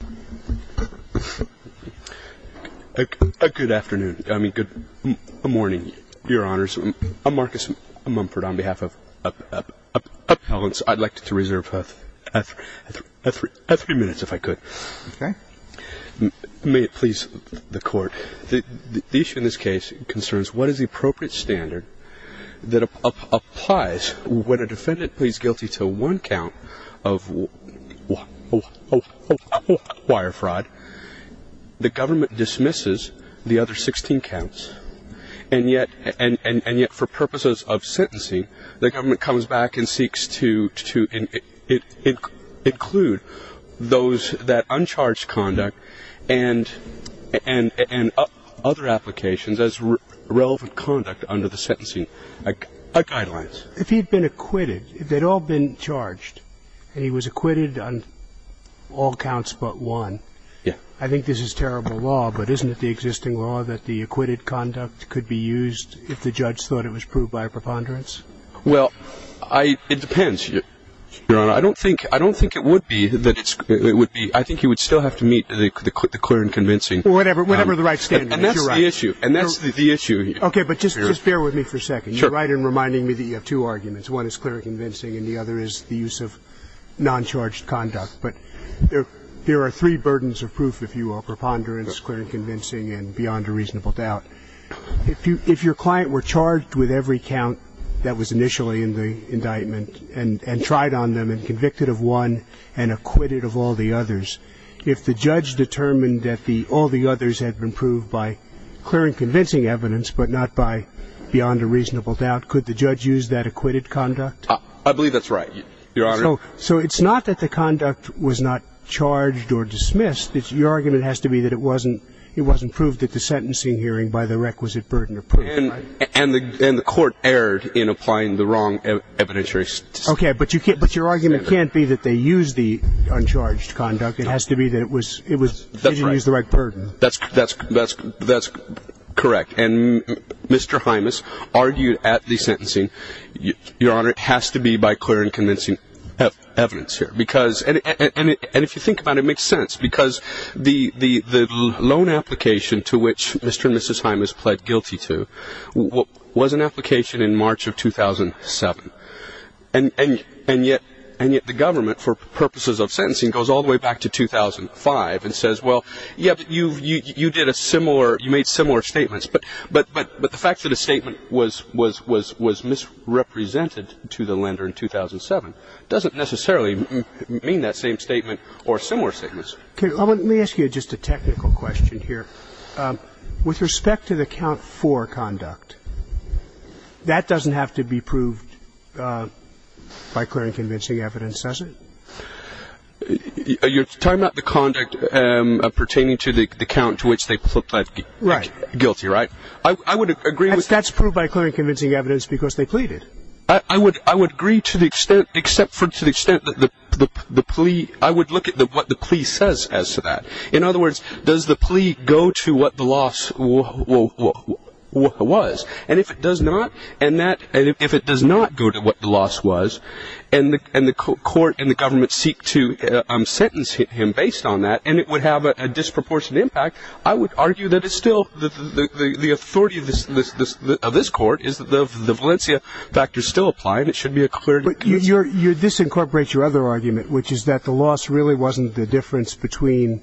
Good morning, Your Honors. I'm Marcus Mumford. On behalf of Appellants, I'd like to reserve three minutes, if I could. May it please the Court, the issue in this case concerns what is the appropriate standard that applies when a defendant pleads guilty to one count of wire fraud. The government dismisses the other 16 counts, and yet for purposes of sentencing, the government comes back and seeks to include those that uncharged conduct and other applications as relevant conduct under the sentencing guidelines. If he'd been acquitted, if they'd all been charged, and he was acquitted on all counts but one, I think this is terrible law, but isn't it the existing law that the acquitted conduct could be used if the judge thought it was proved by a preponderance? Well, it depends, Your Honor. I don't think it would be that it's – it would be – I think you would still have to meet the clear and convincing – Well, whatever the right standard. You're right. And that's the issue. And that's the issue. Okay, but just bear with me for a second. Sure. You're right in reminding me that you have two arguments. One is clear and convincing, and the other is the use of noncharged conduct. But there are three burdens of proof, if you will, preponderance, clear and convincing, and beyond a reasonable doubt. If your client were charged with every count that was initially in the indictment and tried on them and convicted of one and acquitted of all the others, if the judge determined that the – all the others had been proved by clear and convincing evidence but not by beyond a reasonable doubt, could the judge use that acquitted conduct? I believe that's right, Your Honor. So it's not that the conduct was not charged or dismissed. Your argument has to be that it wasn't – it wasn't proved at the sentencing hearing by the requisite burden of proof, right? And the – and the court erred in applying the wrong evidentiary – Okay, but you can't – but your argument can't be that they used the uncharged conduct. It has to be that it was – it was – they didn't use the right burden. That's – that's – that's correct. And Mr. Hymas argued at the sentencing, Your Honor, it has to be by clear and convincing evidence here. Because – and if you think about it, it makes sense. Because the loan application to which Mr. and Mrs. Hymas pled guilty to was an application in March of 2007. And yet – and yet the government, for purposes of sentencing, goes all the way back to 2005 and says, well, yep, you – you did a similar – you made similar statements. But – but – but the fact that a statement was – was – was misrepresented to the lender in 2007 doesn't necessarily mean that same statement or similar statements. Okay, let me ask you just a technical question here. With respect to the count for conduct, that doesn't have to be proved by clear and convincing evidence, does it? You're talking about the conduct pertaining to the count to which they pled guilty, right? I would agree with – That's proved by clear and convincing evidence because they pleaded. I would – I would agree to the extent – except for to the extent that the plea – I would look at what the plea says as to that. In other words, does the plea go to what the loss was? And if it does not, and that – and if it does not go to what the loss was, and the – and the court and the government seek to sentence him based on that, and it would have a disproportionate impact, I would argue that it's still – the authority of this – of this court is that the Valencia factor still applied. It should be a clear – But you're – you're – this incorporates your other argument, which is that the loss really wasn't the difference between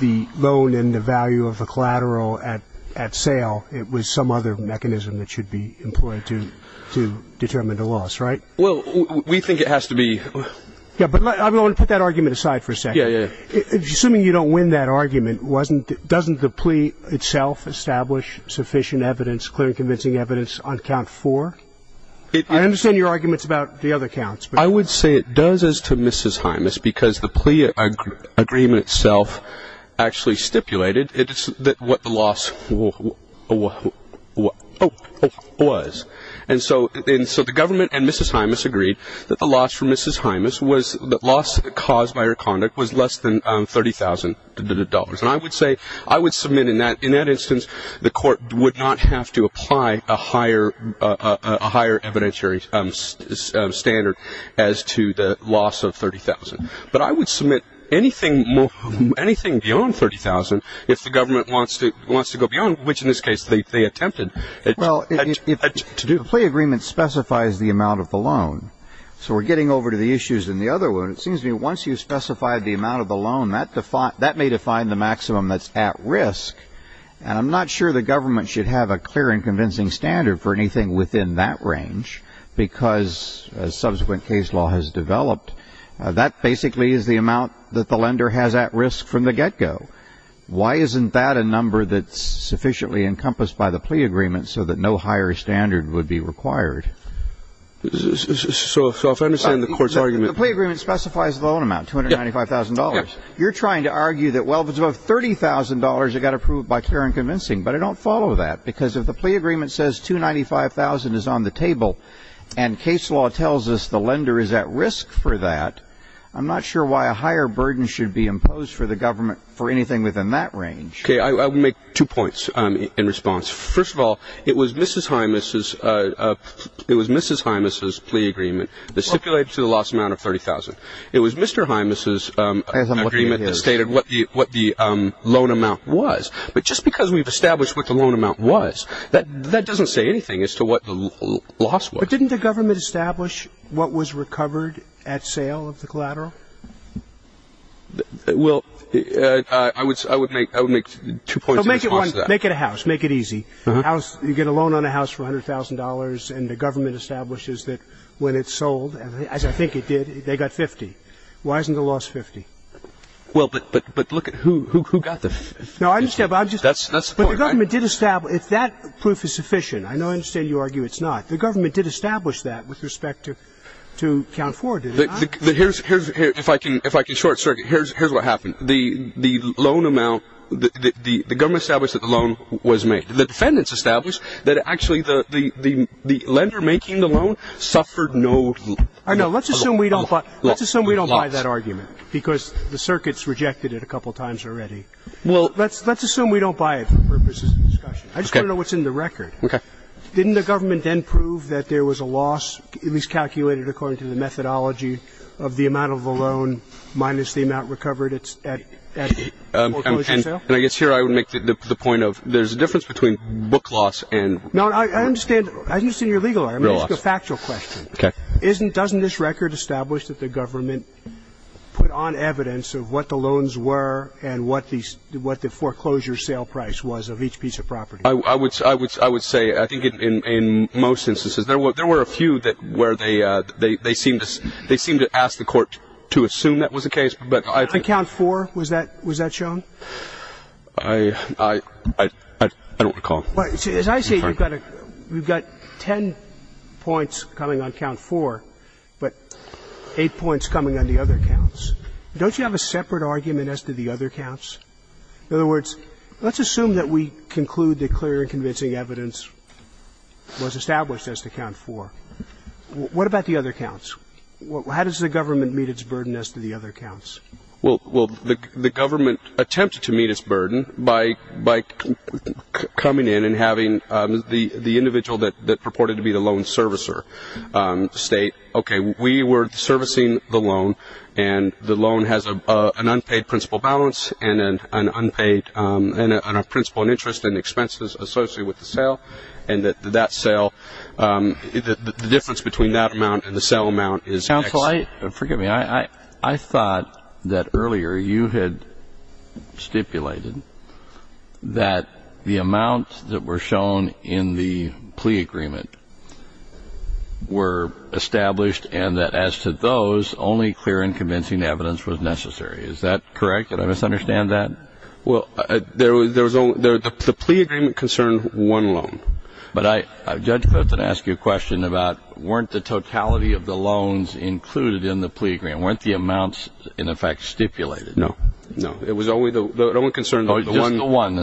the loan and the value of a collateral at – at sale. It was some other mechanism that should be employed to – to determine the loss, right? Well, we think it has to be – Yeah, but let – I want to put that argument aside for a second. Yeah, yeah, yeah. Assuming you don't win that argument, wasn't – doesn't the plea itself establish sufficient evidence, clear and convincing evidence, on count four? It – I understand your arguments about the other counts, but – I would say it does as to Mrs. Hymus because the plea agreement itself actually stipulated it – what the loss was. And so – and so the government and Mrs. Hymus agreed that the loss from Mrs. Hymus was – the loss caused by her conduct was less than $30,000. And I would say – I would submit in that – in that instance, the court would not have to apply a higher – a higher evidentiary standard as to the loss of $30,000. But I would submit anything – anything beyond $30,000 if the government wants to – wants to go beyond, which in this case they attempted. Well, if – if the plea agreement specifies the amount of the loan – so we're getting over to the issues in the other one. It seems to me once you've specified the amount of the loan, that may define the maximum that's at risk. And I'm not sure the government should have a clear and convincing standard for anything within that range because, as subsequent case law has developed, that basically is the amount that the lender has at risk from the get-go. Why isn't that a number that's sufficiently encompassed by the plea agreement so that no higher standard would be required? So – so if I understand the court's argument – The plea agreement specifies the loan amount, $295,000. You're trying to argue that, well, if it's above $30,000, it got approved by clear and convincing. But I don't follow that because if the plea agreement says $295,000 is on the table and case law tells us the lender is at risk for that, I'm not sure why a higher burden should be imposed for the government for anything within that range. Okay, I will make two points in response. First of all, it was Mrs. Hymas's plea agreement that stipulated the lost amount of $30,000. It was Mr. Hymas's agreement that stated what the loan amount was. But just because we've established what the loan amount was, that doesn't say anything as to what the loss was. But didn't the government establish what was recovered at sale of the collateral? Well, I would make two points in response to that. Make it a house. Make it easy. You get a loan on a house for $100,000 and the government establishes that when it's sold, as I think it did, they got 50. Why isn't the loss 50? Well, but look at who got the – No, I understand, but I'm just – That's the point, right? But the government did establish – if that proof is sufficient – I know I understand you argue it's not. The government did establish that with respect to account forward, did it not? Here's – if I can short-circuit, here's what happened. The loan amount – the government established that the loan was made. The defendants established that actually the lender making the loan suffered no loss. I know. Let's assume we don't buy that argument because the circuit's rejected it a couple times already. Let's assume we don't buy it for purposes of discussion. I just want to know what's in the record. Okay. Didn't the government then prove that there was a loss, at least calculated according to the methodology, of the amount of the loan minus the amount recovered at the foreclosure sale? And I guess here I would make the point of there's a difference between book loss and – No, I understand your legal argument. It's a factual question. Okay. Doesn't this record establish that the government put on evidence of what the loans were and what the foreclosure sale price was of each piece of property? I would say I think in most instances. There were a few where they seemed to ask the court to assume that was the case. On count four, was that shown? I don't recall. As I see it, we've got ten points coming on count four, but eight points coming on the other counts. Don't you have a separate argument as to the other counts? In other words, let's assume that we conclude that clear and convincing evidence was established as to count four. What about the other counts? How does the government meet its burden as to the other counts? Well, the government attempted to meet its burden by coming in and having the individual that purported to be the loan servicer state, okay, we were servicing the loan, and the loan has an unpaid principal balance and a principal in interest and expenses associated with the sale, and the difference between that amount and the sale amount is X. Counsel, forgive me. I thought that earlier you had stipulated that the amounts that were shown in the plea agreement were established and that as to those, only clear and convincing evidence was necessary. Is that correct? Did I misunderstand that? Well, the plea agreement concerned one loan. But Judge Fenton asked you a question about weren't the totality of the loans included in the plea agreement. Weren't the amounts, in effect, stipulated? No. No. It was only the one concern. Just the one. One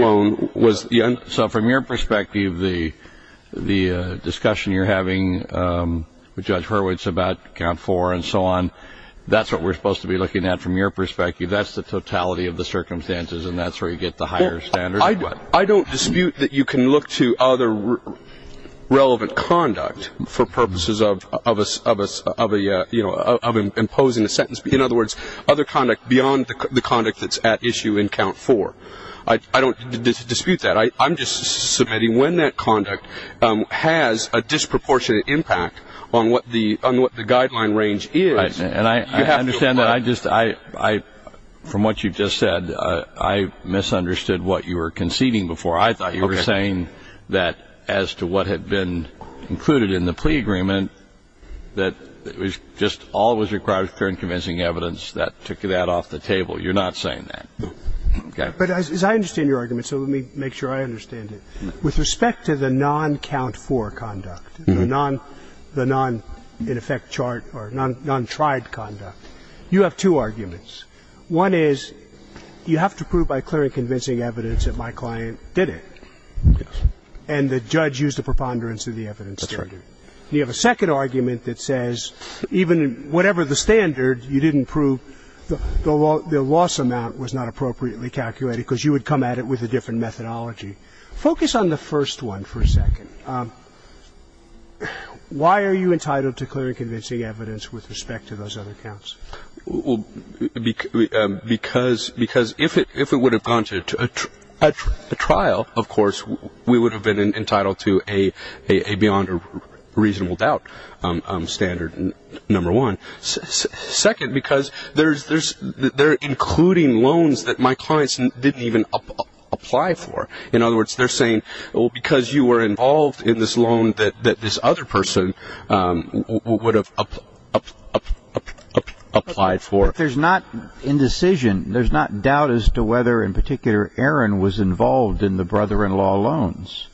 loan. So from your perspective, the discussion you're having with Judge Hurwitz about count four and so on, that's what we're supposed to be looking at from your perspective. That's the totality of the circumstances, and that's where you get the higher standards. I don't dispute that you can look to other relevant conduct for purposes of imposing a sentence. In other words, other conduct beyond the conduct that's at issue in count four. I don't dispute that. I'm just submitting when that conduct has a disproportionate impact on what the guideline range is. And I understand that I just, from what you just said, I misunderstood what you were conceding before. I thought you were saying that as to what had been included in the plea agreement, that it was just all that was required was clear and convincing evidence. That took that off the table. You're not saying that. Okay. But as I understand your argument, so let me make sure I understand it, with respect to the non-count four conduct, the non-in-effect chart or non-tried conduct, you have two arguments. One is you have to prove by clear and convincing evidence that my client did it. Yes. And the judge used a preponderance of the evidence. That's right. And you have a second argument that says even whatever the standard you didn't prove, the loss amount was not appropriately calculated because you would come at it with a different methodology. Focus on the first one for a second. Why are you entitled to clear and convincing evidence with respect to those other counts? Because if it would have gone to a trial, of course, we would have been entitled to a beyond a reasonable doubt standard, number one. Second, because they're including loans that my clients didn't even apply for. In other words, they're saying, well, because you were involved in this loan that this other person would have applied for. There's not indecision. There's not doubt as to whether in particular Aaron was involved in the brother-in-law loans.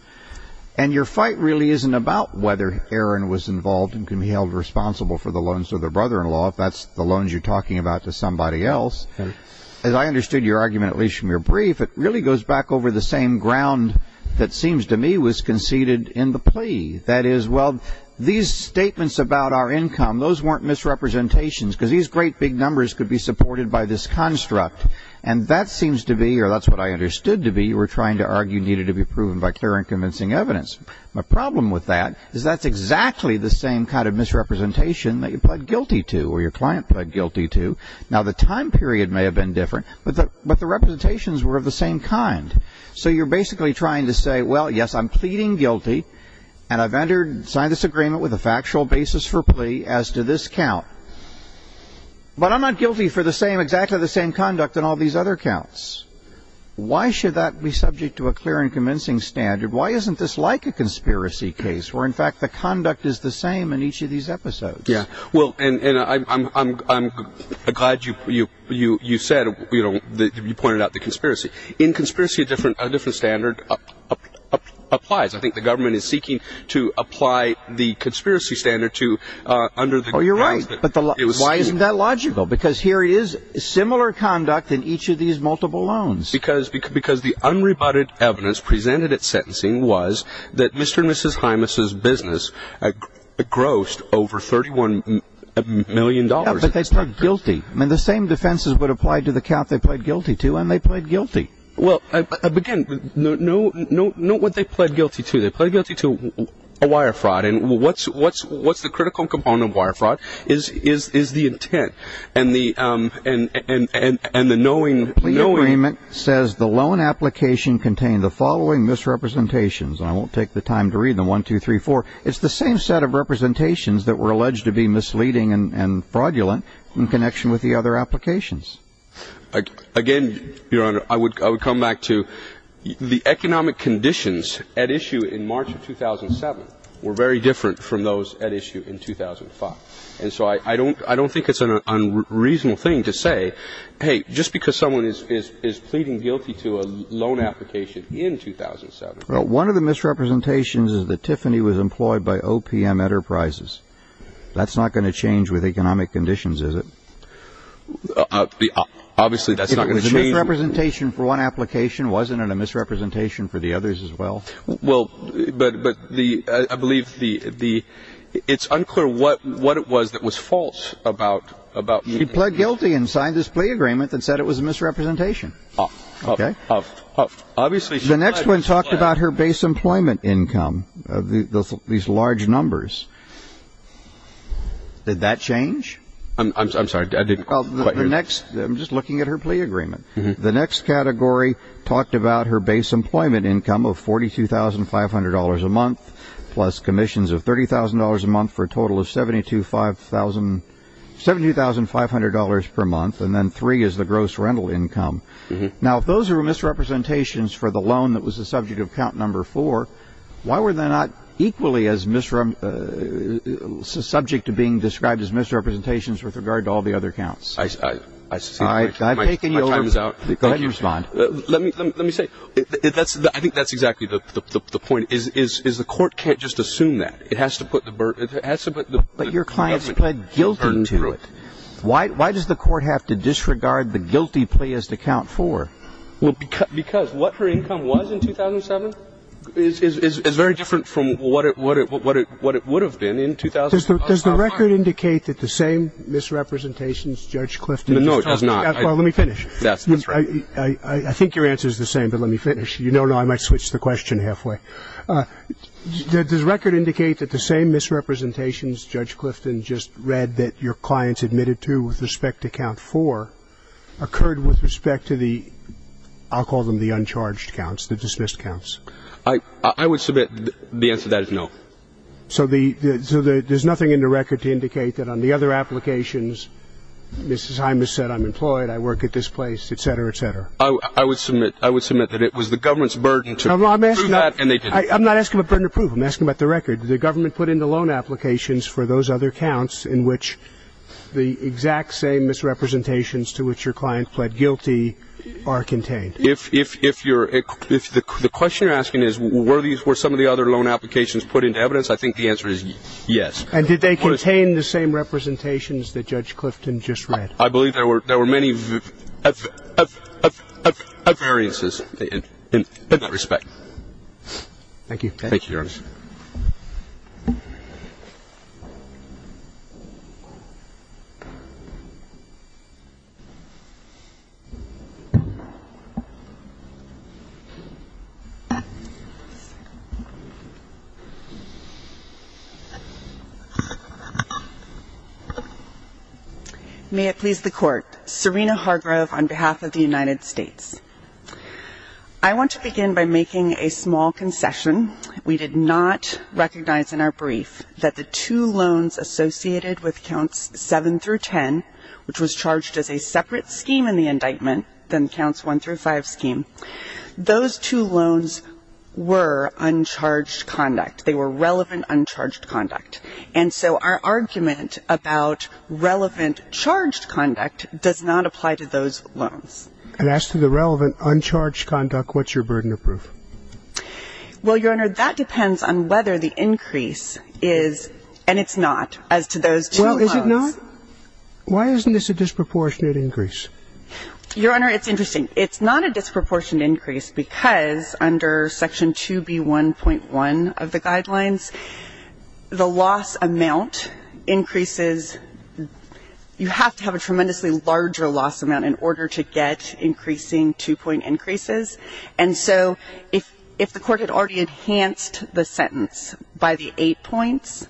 And your fight really isn't about whether Aaron was involved and can be held responsible for the loans to the brother-in-law if that's the loans you're talking about to somebody else. As I understood your argument, at least from your brief, it really goes back over the same ground that seems to me was conceded in the plea. That is, well, these statements about our income, those weren't misrepresentations because these great big numbers could be supported by this construct. And that seems to be, or that's what I understood to be, you were trying to argue needed to be proven by clear and convincing evidence. My problem with that is that's exactly the same kind of misrepresentation that you pled guilty to or your client pled guilty to. Now, the time period may have been different, but the representations were of the same kind. So you're basically trying to say, well, yes, I'm pleading guilty and I've signed this agreement with a factual basis for plea as to this count, but I'm not guilty for exactly the same conduct in all these other counts. Why should that be subject to a clear and convincing standard? Why isn't this like a conspiracy case where, in fact, the conduct is the same in each of these episodes? Yeah, well, and I'm glad you said, you know, you pointed out the conspiracy. In conspiracy, a different standard applies. I think the government is seeking to apply the conspiracy standard to under the grounds that it was seen. Oh, you're right, but why isn't that logical? Because here is similar conduct in each of these multiple loans. Because the unrebutted evidence presented at sentencing was that Mr. and Mrs. Hymas' business grossed over $31 million. Yeah, but they pled guilty. I mean, the same defenses would apply to the count they pled guilty to, and they pled guilty. Well, again, note what they pled guilty to. They pled guilty to a wire fraud, and what's the critical component of wire fraud is the intent and the knowing. The agreement says the loan application contained the following misrepresentations. And I won't take the time to read them, 1, 2, 3, 4. It's the same set of representations that were alleged to be misleading and fraudulent in connection with the other applications. Again, Your Honor, I would come back to the economic conditions at issue in March of 2007 were very different from those at issue in 2005. And so I don't think it's an unreasonable thing to say, hey, just because someone is pleading guilty to a loan application in 2007. Well, one of the misrepresentations is that Tiffany was employed by OPM Enterprises. That's not going to change with economic conditions, is it? Obviously, that's not going to change. If it was a misrepresentation for one application, wasn't it a misrepresentation for the others as well? Well, but I believe it's unclear what it was that was false about. She pled guilty and signed this plea agreement that said it was a misrepresentation. Obviously. The next one talked about her base employment income, these large numbers. Did that change? I'm sorry. I didn't quite hear that. I'm just looking at her plea agreement. The next category talked about her base employment income of $42,500 a month plus commissions of $30,000 a month for a total of $72,500 per month. And then three is the gross rental income. Now, if those are misrepresentations for the loan that was the subject of count number four, why were they not equally as subject to being described as misrepresentations with regard to all the other counts? All right. My time is out. Go ahead and respond. Let me say, I think that's exactly the point, is the court can't just assume that. It has to put the burden. But your client pled guilty to it. Why does the court have to disregard the guilty plea as to count four? Because what her income was in 2007 is very different from what it would have been in 2005. Does the record indicate that the same misrepresentations Judge Clifton just talked about? No, it does not. Well, let me finish. I think your answer is the same, but let me finish. You know I might switch the question halfway. Does the record indicate that the same misrepresentations Judge Clifton just read that your client admitted to with respect to count four occurred with respect to the, I'll call them the uncharged counts, the dismissed counts? I would submit the answer to that is no. So there's nothing in the record to indicate that on the other applications Mrs. Hymas said I'm employed, I work at this place, et cetera, et cetera. I would submit that it was the government's burden to prove that and they didn't. I'm not asking about burden to prove. I'm asking about the record. The government put in the loan applications for those other counts in which the exact same misrepresentations to which your client pled guilty are contained. If the question you're asking is were some of the other loan applications put into evidence, I think the answer is yes. And did they contain the same representations that Judge Clifton just read? I believe there were many variances in that respect. Thank you, Your Honor. May it please the Court. Serena Hargrove on behalf of the United States. I want to begin by making a small concession. We did not recognize in our brief that the two loans associated with counts seven through ten, which was charged as a separate scheme in the indictment than counts one through five scheme, those two loans were uncharged conduct. They were relevant uncharged conduct. And so our argument about relevant charged conduct does not apply to those loans. And as to the relevant uncharged conduct, what's your burden to prove? Well, Your Honor, that depends on whether the increase is, and it's not, as to those two loans. Well, is it not? Why isn't this a disproportionate increase? Your Honor, it's interesting. It's not a disproportionate increase because under Section 2B1.1 of the Guidelines, the loss amount increases. You have to have a tremendously larger loss amount in order to get increasing two-point increases. And so if the Court had already enhanced the sentence by the eight points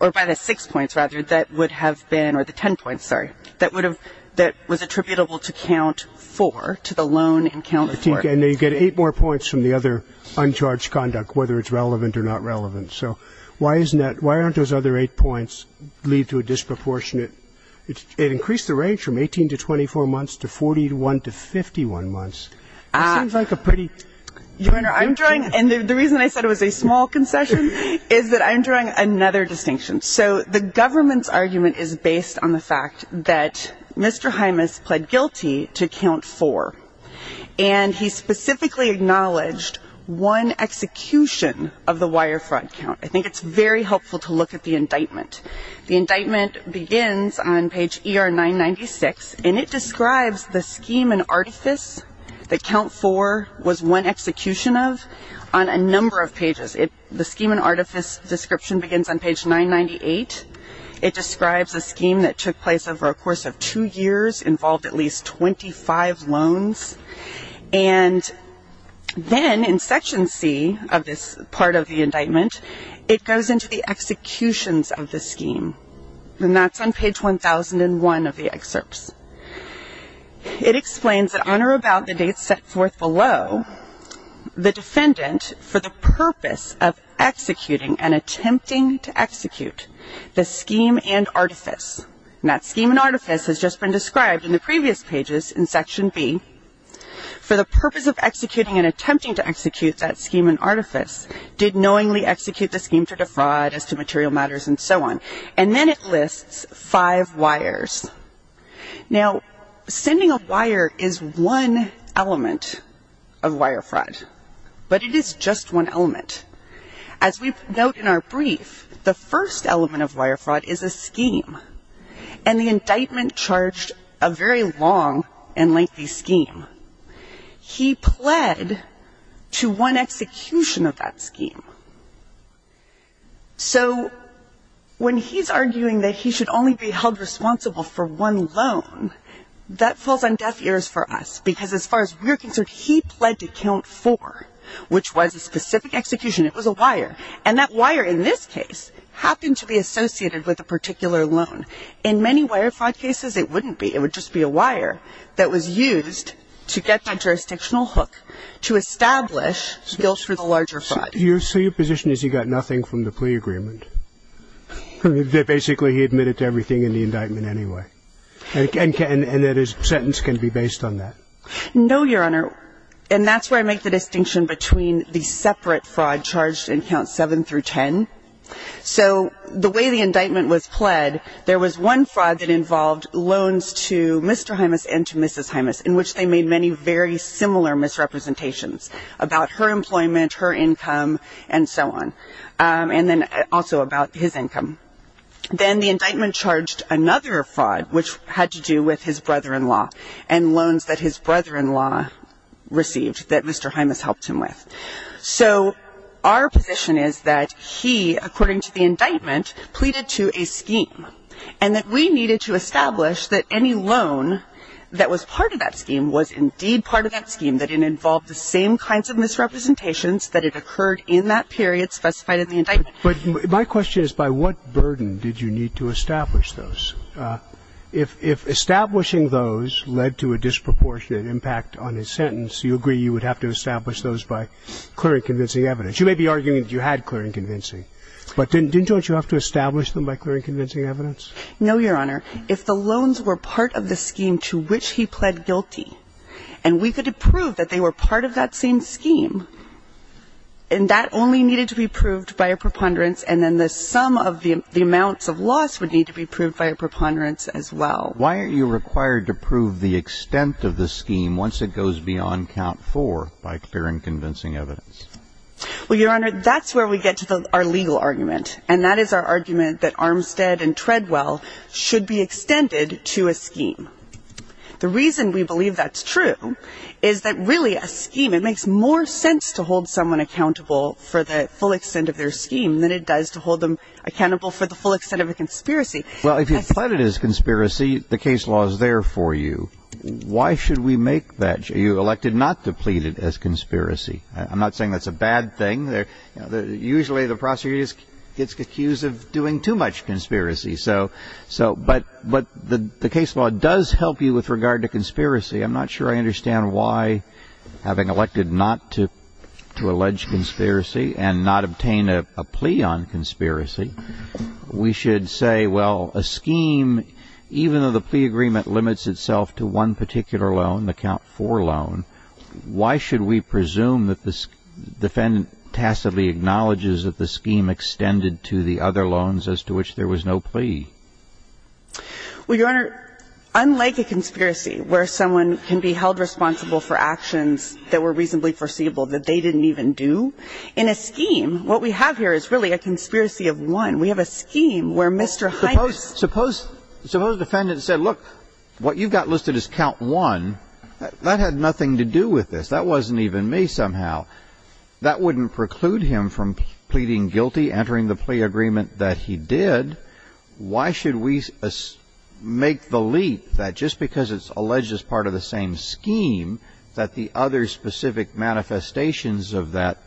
or by the six points, rather, or the ten points, sorry, that was attributable to count four, to the loan in count of four. And then you get eight more points from the other uncharged conduct, whether it's relevant or not relevant. So why aren't those other eight points lead to a disproportionate increase? It increased the range from 18 to 24 months to 41 to 51 months. It seems like a pretty... Your Honor, I'm drawing, and the reason I said it was a small concession is that I'm drawing another distinction. So the government's argument is based on the fact that Mr. Hymas pled guilty to count four, and he specifically acknowledged one execution of the wire fraud count. I think it's very helpful to look at the indictment. The indictment begins on page ER996, and it describes the scheme and artifice that count four was one execution of on a number of pages. The scheme and artifice description begins on page 998. It describes a scheme that took place over a course of two years, involved at least 25 loans. And then in section C of this part of the indictment, it goes into the executions of the scheme, and that's on page 1001 of the excerpts. It explains that on or about the dates set forth below, the defendant, for the purpose of executing and attempting to execute the scheme and artifice, and that scheme and artifice has just been described in the previous pages in section B, for the purpose of executing and attempting to execute that scheme and artifice, did knowingly execute the scheme to defraud as to material matters and so on. And then it lists five wires. Now, sending a wire is one element of wire fraud, but it is just one element. As we note in our brief, the first element of wire fraud is a scheme, and the indictment charged a very long and lengthy scheme. He pled to one execution of that scheme. So when he's arguing that he should only be held responsible for one loan, that falls on deaf ears for us, because as far as we're concerned, he pled to count four, which was a specific execution. It was a wire. And that wire, in this case, happened to be associated with a particular loan. In many wire fraud cases, it wouldn't be. It would just be a wire that was used to get the jurisdictional hook to establish skills for the larger fraud. So your position is he got nothing from the plea agreement, that basically he admitted to everything in the indictment anyway, and that his sentence can be based on that? No, Your Honor. And that's where I make the distinction between the separate fraud charged in Counts 7 through 10. So the way the indictment was pled, there was one fraud that involved loans to Mr. Hymas and to Mrs. Hymas, in which they made many very similar misrepresentations about her employment, her income, and so on, and then also about his income. Then the indictment charged another fraud, which had to do with his brother-in-law and loans that his brother-in-law received that Mr. Hymas helped him with. So our position is that he, according to the indictment, pleaded to a scheme, and that we needed to establish that any loan that was part of that scheme was indeed part of that scheme, that it involved the same kinds of misrepresentations that had occurred in that period specified in the indictment. But my question is by what burden did you need to establish those? If establishing those led to a disproportionate impact on his sentence, you agree you would have to establish those by clear and convincing evidence. You may be arguing that you had clear and convincing, but didn't you have to establish them by clear and convincing evidence? No, Your Honor. If the loans were part of the scheme to which he pled guilty and we could prove that they were part of that same scheme and that only needed to be proved by a preponderance and then the sum of the amounts of loss would need to be proved by a preponderance as well. Why are you required to prove the extent of the scheme once it goes beyond count four by clear and convincing evidence? Well, Your Honor, that's where we get to our legal argument, and that is our argument that Armstead and Treadwell should be extended to a scheme. The reason we believe that's true is that really a scheme, it makes more sense to hold someone accountable for the full extent of their scheme than it does to hold them accountable for the full extent of a conspiracy. Well, if you pled it as conspiracy, the case law is there for you. Why should we make that? You elected not to plead it as conspiracy. I'm not saying that's a bad thing. Usually the prosecutor gets accused of doing too much conspiracy. But the case law does help you with regard to conspiracy. I'm not sure I understand why, having elected not to allege conspiracy and not obtain a plea on conspiracy, we should say, well, a scheme, even though the plea agreement limits itself to one particular loan, the count four loan, why should we presume that the defendant tacitly acknowledges that the scheme extended to the other loans as to which there was no plea? Well, Your Honor, unlike a conspiracy where someone can be held responsible for actions that were reasonably foreseeable that they didn't even do, in a scheme, what we have here is really a conspiracy of one. We have a scheme where Mr. Hines ---- Suppose the defendant said, look, what you've got listed is count one. That had nothing to do with this. That wasn't even me somehow. That wouldn't preclude him from pleading guilty, entering the plea agreement that he did. Why should we make the leap that just because it's alleged as part of the same scheme that the other specific manifestations of that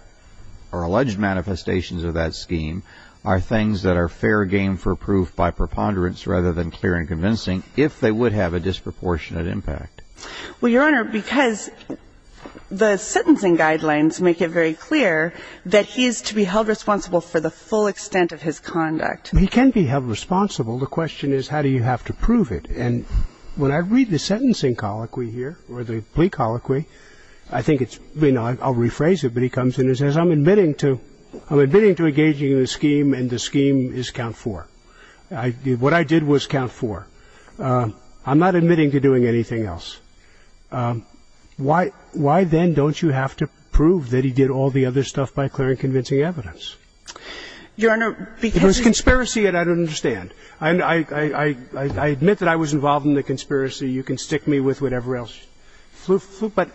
or alleged manifestations of that scheme are things that are fair game for proof by preponderance rather than clear and convincing if they would have a disproportionate impact? Well, Your Honor, because the sentencing guidelines make it very clear that he is to be held responsible for the full extent of his conduct. He can be held responsible. The question is how do you have to prove it? And when I read the sentencing colloquy here or the plea colloquy, I think it's ---- I'll rephrase it, but he comes in and says, I'm admitting to engaging in the scheme and the scheme is count four. What I did was count four. I'm not admitting to doing anything else. Why then don't you have to prove that he did all the other stuff by clear and convincing evidence? Your Honor, because he ---- It was conspiracy and I don't understand. I admit that I was involved in the conspiracy. You can stick me with whatever else. But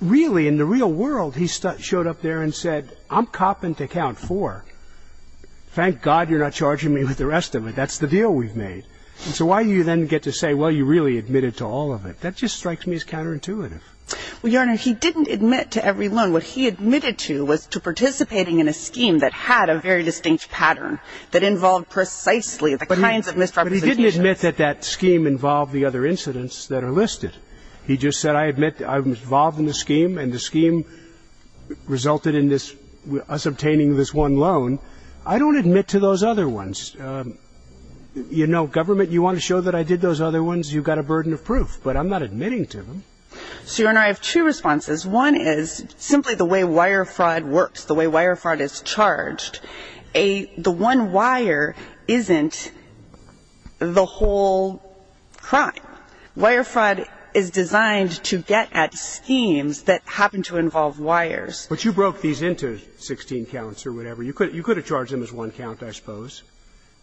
really, in the real world, he showed up there and said, I'm copping to count four. Thank God you're not charging me with the rest of it. That's the deal we've made. And so why do you then get to say, well, you really admitted to all of it? That just strikes me as counterintuitive. Well, Your Honor, he didn't admit to every loan. What he admitted to was to participating in a scheme that had a very distinct pattern that involved precisely the kinds of misrepresentations. But he didn't admit that that scheme involved the other incidents that are listed. He just said, I admit that I was involved in the scheme and the scheme resulted in us obtaining this one loan. I don't admit to those other ones. You know, government, you want to show that I did those other ones, you've got a burden of proof. But I'm not admitting to them. So, Your Honor, I have two responses. One is simply the way wire fraud works, the way wire fraud is charged. The one wire isn't the whole crime. Wire fraud is designed to get at schemes that happen to involve wires. But you broke these into 16 counts or whatever. You could have charged them as one count, I suppose.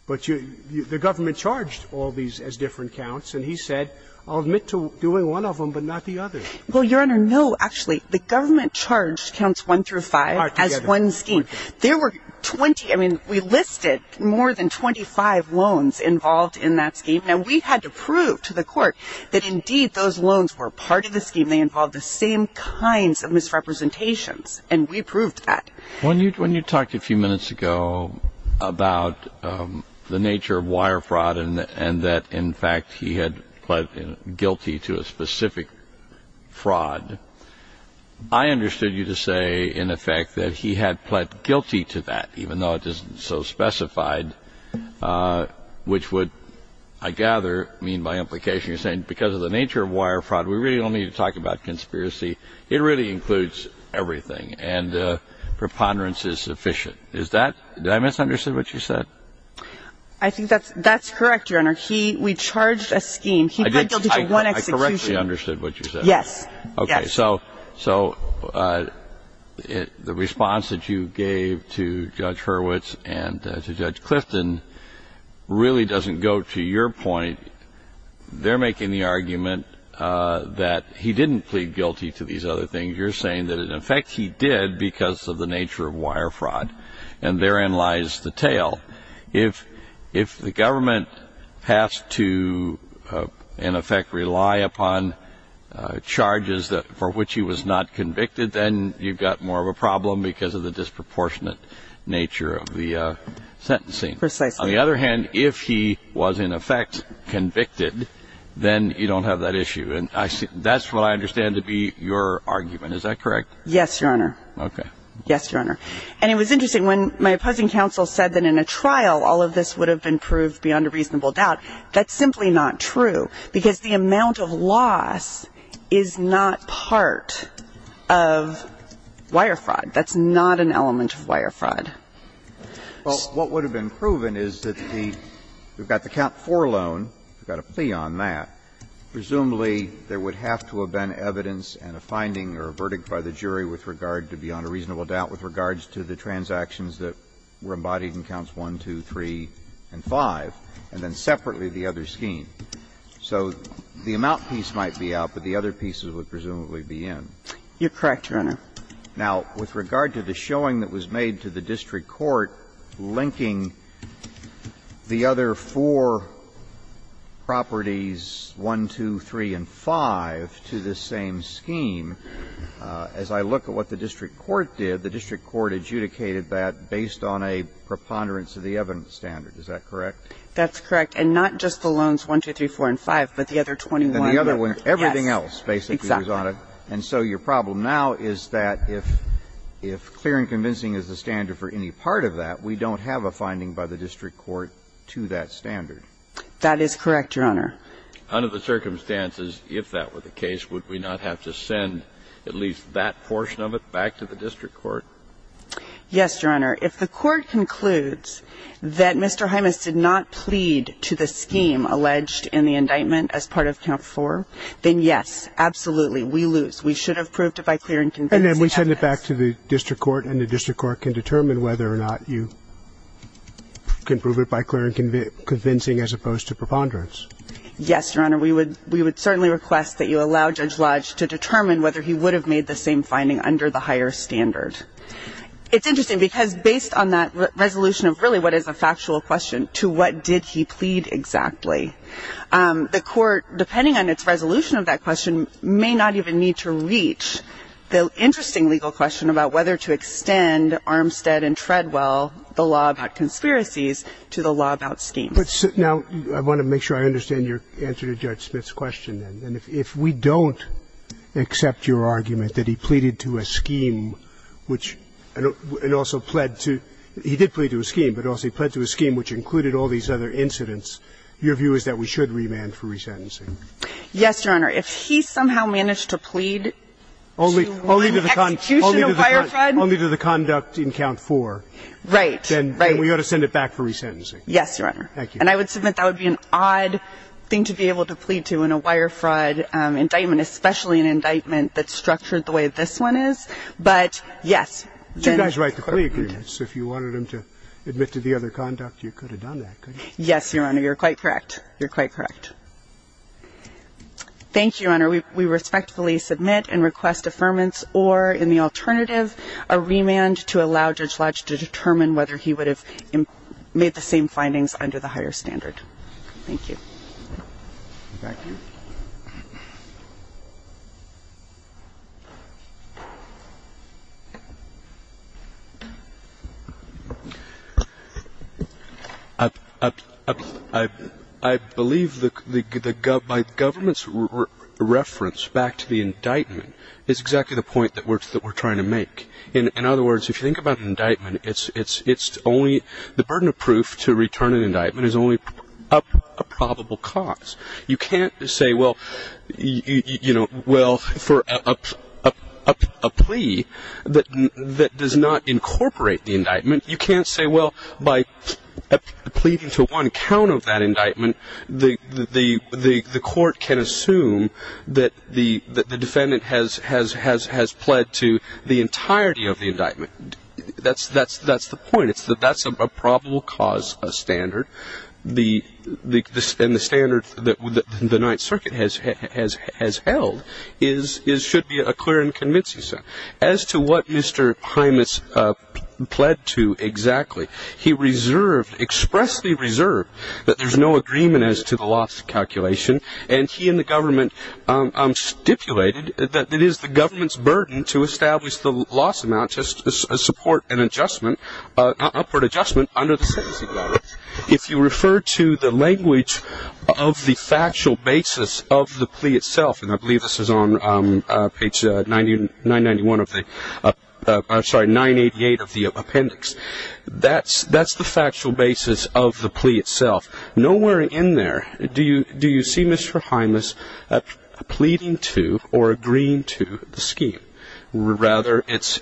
But the government charged all these as different counts. And he said, I'll admit to doing one of them but not the other. Well, Your Honor, no, actually, the government charged counts one through five as one scheme. There were 20, I mean, we listed more than 25 loans involved in that scheme. Now, we had to prove to the court that, indeed, those loans were part of the scheme. They involved the same kinds of misrepresentations. And we proved that. When you talked a few minutes ago about the nature of wire fraud and that, in fact, he had pled guilty to a specific fraud, I understood you to say, in effect, that he had pled guilty to that, even though it isn't so specified, which would, I gather, mean by implication you're saying, because of the nature of wire fraud, we really don't need to talk about conspiracy. It really includes everything. And preponderance is sufficient. Is that ñ did I misunderstand what you said? I think that's correct, Your Honor. He ñ we charged a scheme. He pled guilty to one execution. I correctly understood what you said. Yes. Okay. So the response that you gave to Judge Hurwitz and to Judge Clifton really doesn't go to your point. They're making the argument that he didn't plead guilty to these other things. You're saying that, in effect, he did because of the nature of wire fraud. And therein lies the tale. If the government has to, in effect, rely upon charges for which he was not convicted, then you've got more of a problem because of the disproportionate nature of the sentencing. Precisely. On the other hand, if he was, in effect, convicted, then you don't have that issue. And that's what I understand to be your argument. Is that correct? Yes, Your Honor. Okay. Yes, Your Honor. And it was interesting. When my opposing counsel said that in a trial all of this would have been proved beyond a reasonable doubt, that's simply not true because the amount of loss is not part of wire fraud. That's not an element of wire fraud. Well, what would have been proven is that the ñ we've got the count for loan. We've got a plea on that. Presumably, there would have to have been evidence and a finding or a verdict by the jury with regard to beyond a reasonable doubt with regards to the transactions that were embodied in counts 1, 2, 3, and 5, and then separately the other scheme. So the amount piece might be out, but the other pieces would presumably be in. You're correct, Your Honor. Now, with regard to the showing that was made to the district court linking the other four properties, 1, 2, 3, and 5, to this same scheme, as I look at what the district court did, the district court adjudicated that based on a preponderance of the evidence standard. Is that correct? That's correct. And not just the loans 1, 2, 3, 4, and 5, but the other 21. Everything else basically was on it. Exactly. And so your problem now is that if clear and convincing is the standard for any part of that, we don't have a finding by the district court to that standard. That is correct, Your Honor. Under the circumstances, if that were the case, would we not have to send at least that portion of it back to the district court? Yes, Your Honor. If the court concludes that Mr. Hymas did not plead to the scheme alleged in the indictment as part of count 4, then yes, absolutely, we lose. We should have proved it by clear and convincing evidence. And then we send it back to the district court, and the district court can determine whether or not you can prove it by clear and convincing as opposed to preponderance. Yes, Your Honor. We would certainly request that you allow Judge Lodge to determine whether he would have made the same finding under the higher standard. It's interesting because based on that resolution of really what is a factual question to what did he plead exactly, the court, depending on its resolution of that question, may not even need to reach the interesting legal question about whether to extend Armstead and Treadwell, the law about conspiracies, to the law about schemes. Now, I want to make sure I understand your answer to Judge Smith's question. And if we don't accept your argument that he pleaded to a scheme which – and also pled to – he did plead to a scheme, but also he pled to a scheme which included all these other incidents, your view is that we should remand for resentencing? Yes, Your Honor. If he somehow managed to plead to an execution of wire fraud. Only to the conduct in Count 4. Right. Then we ought to send it back for resentencing. Yes, Your Honor. Thank you. And I would submit that would be an odd thing to be able to plead to in a wire fraud indictment, especially an indictment that's structured the way this one is. But, yes. You guys write the plea agreements. If you wanted him to admit to the other conduct, you could have done that, couldn't Yes, Your Honor. You're quite correct. You're quite correct. Thank you, Your Honor. We respectfully submit and request affirmance or, in the alternative, a remand to allow Judge Lodge to determine whether he would have made the same findings under the higher standard. Thank you. Thank you. I believe the government's reference back to the indictment is exactly the point that we're trying to make. In other words, if you think about an indictment, it's only the burden of proof to a probable cause. You can't say, well, for a plea that does not incorporate the indictment, you can't say, well, by pleading to one count of that indictment, the court can assume that the defendant has pled to the entirety of the indictment. That's the point. That's a probable cause standard. And the standard that the Ninth Circuit has held should be a clear and convincing standard. As to what Mr. Hymas pled to exactly, he reserved, expressly reserved, that there's no agreement as to the loss calculation, and he and the government stipulated that it is the government's burden to establish the loss amount to support an adjustment, an upward adjustment under the sentencing law. If you refer to the language of the factual basis of the plea itself, and I believe this is on page 991 of the, I'm sorry, 988 of the appendix, that's the factual basis of the plea itself. Nowhere in there do you see Mr. Hymas pleading to or agreeing to the scheme. Rather, it's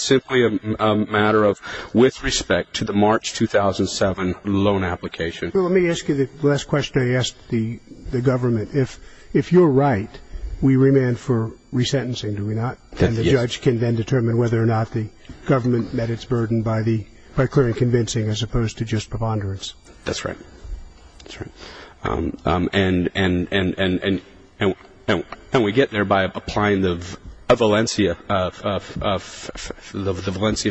simply a matter of with respect to the March 2007 loan application. Well, let me ask you the last question I asked the government. If you're right, we remand for resentencing, do we not? Yes. And the judge can then determine whether or not the government met its burden by clear and convincing as opposed to just preponderance. That's right. That's right. And we get there by applying the Valencia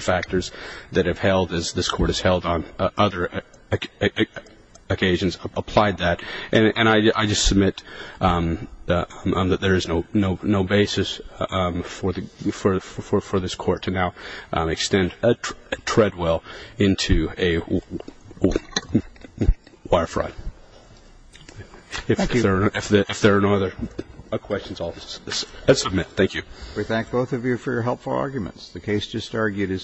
factors that have held, as this court has held on other occasions, applied that. And I just submit that there is no basis for this court to now extend a treadwell into a wire fraud. Thank you. If there are no other questions, I'll submit. Thank you. We thank both of you for your helpful arguments. The case just argued is submitted.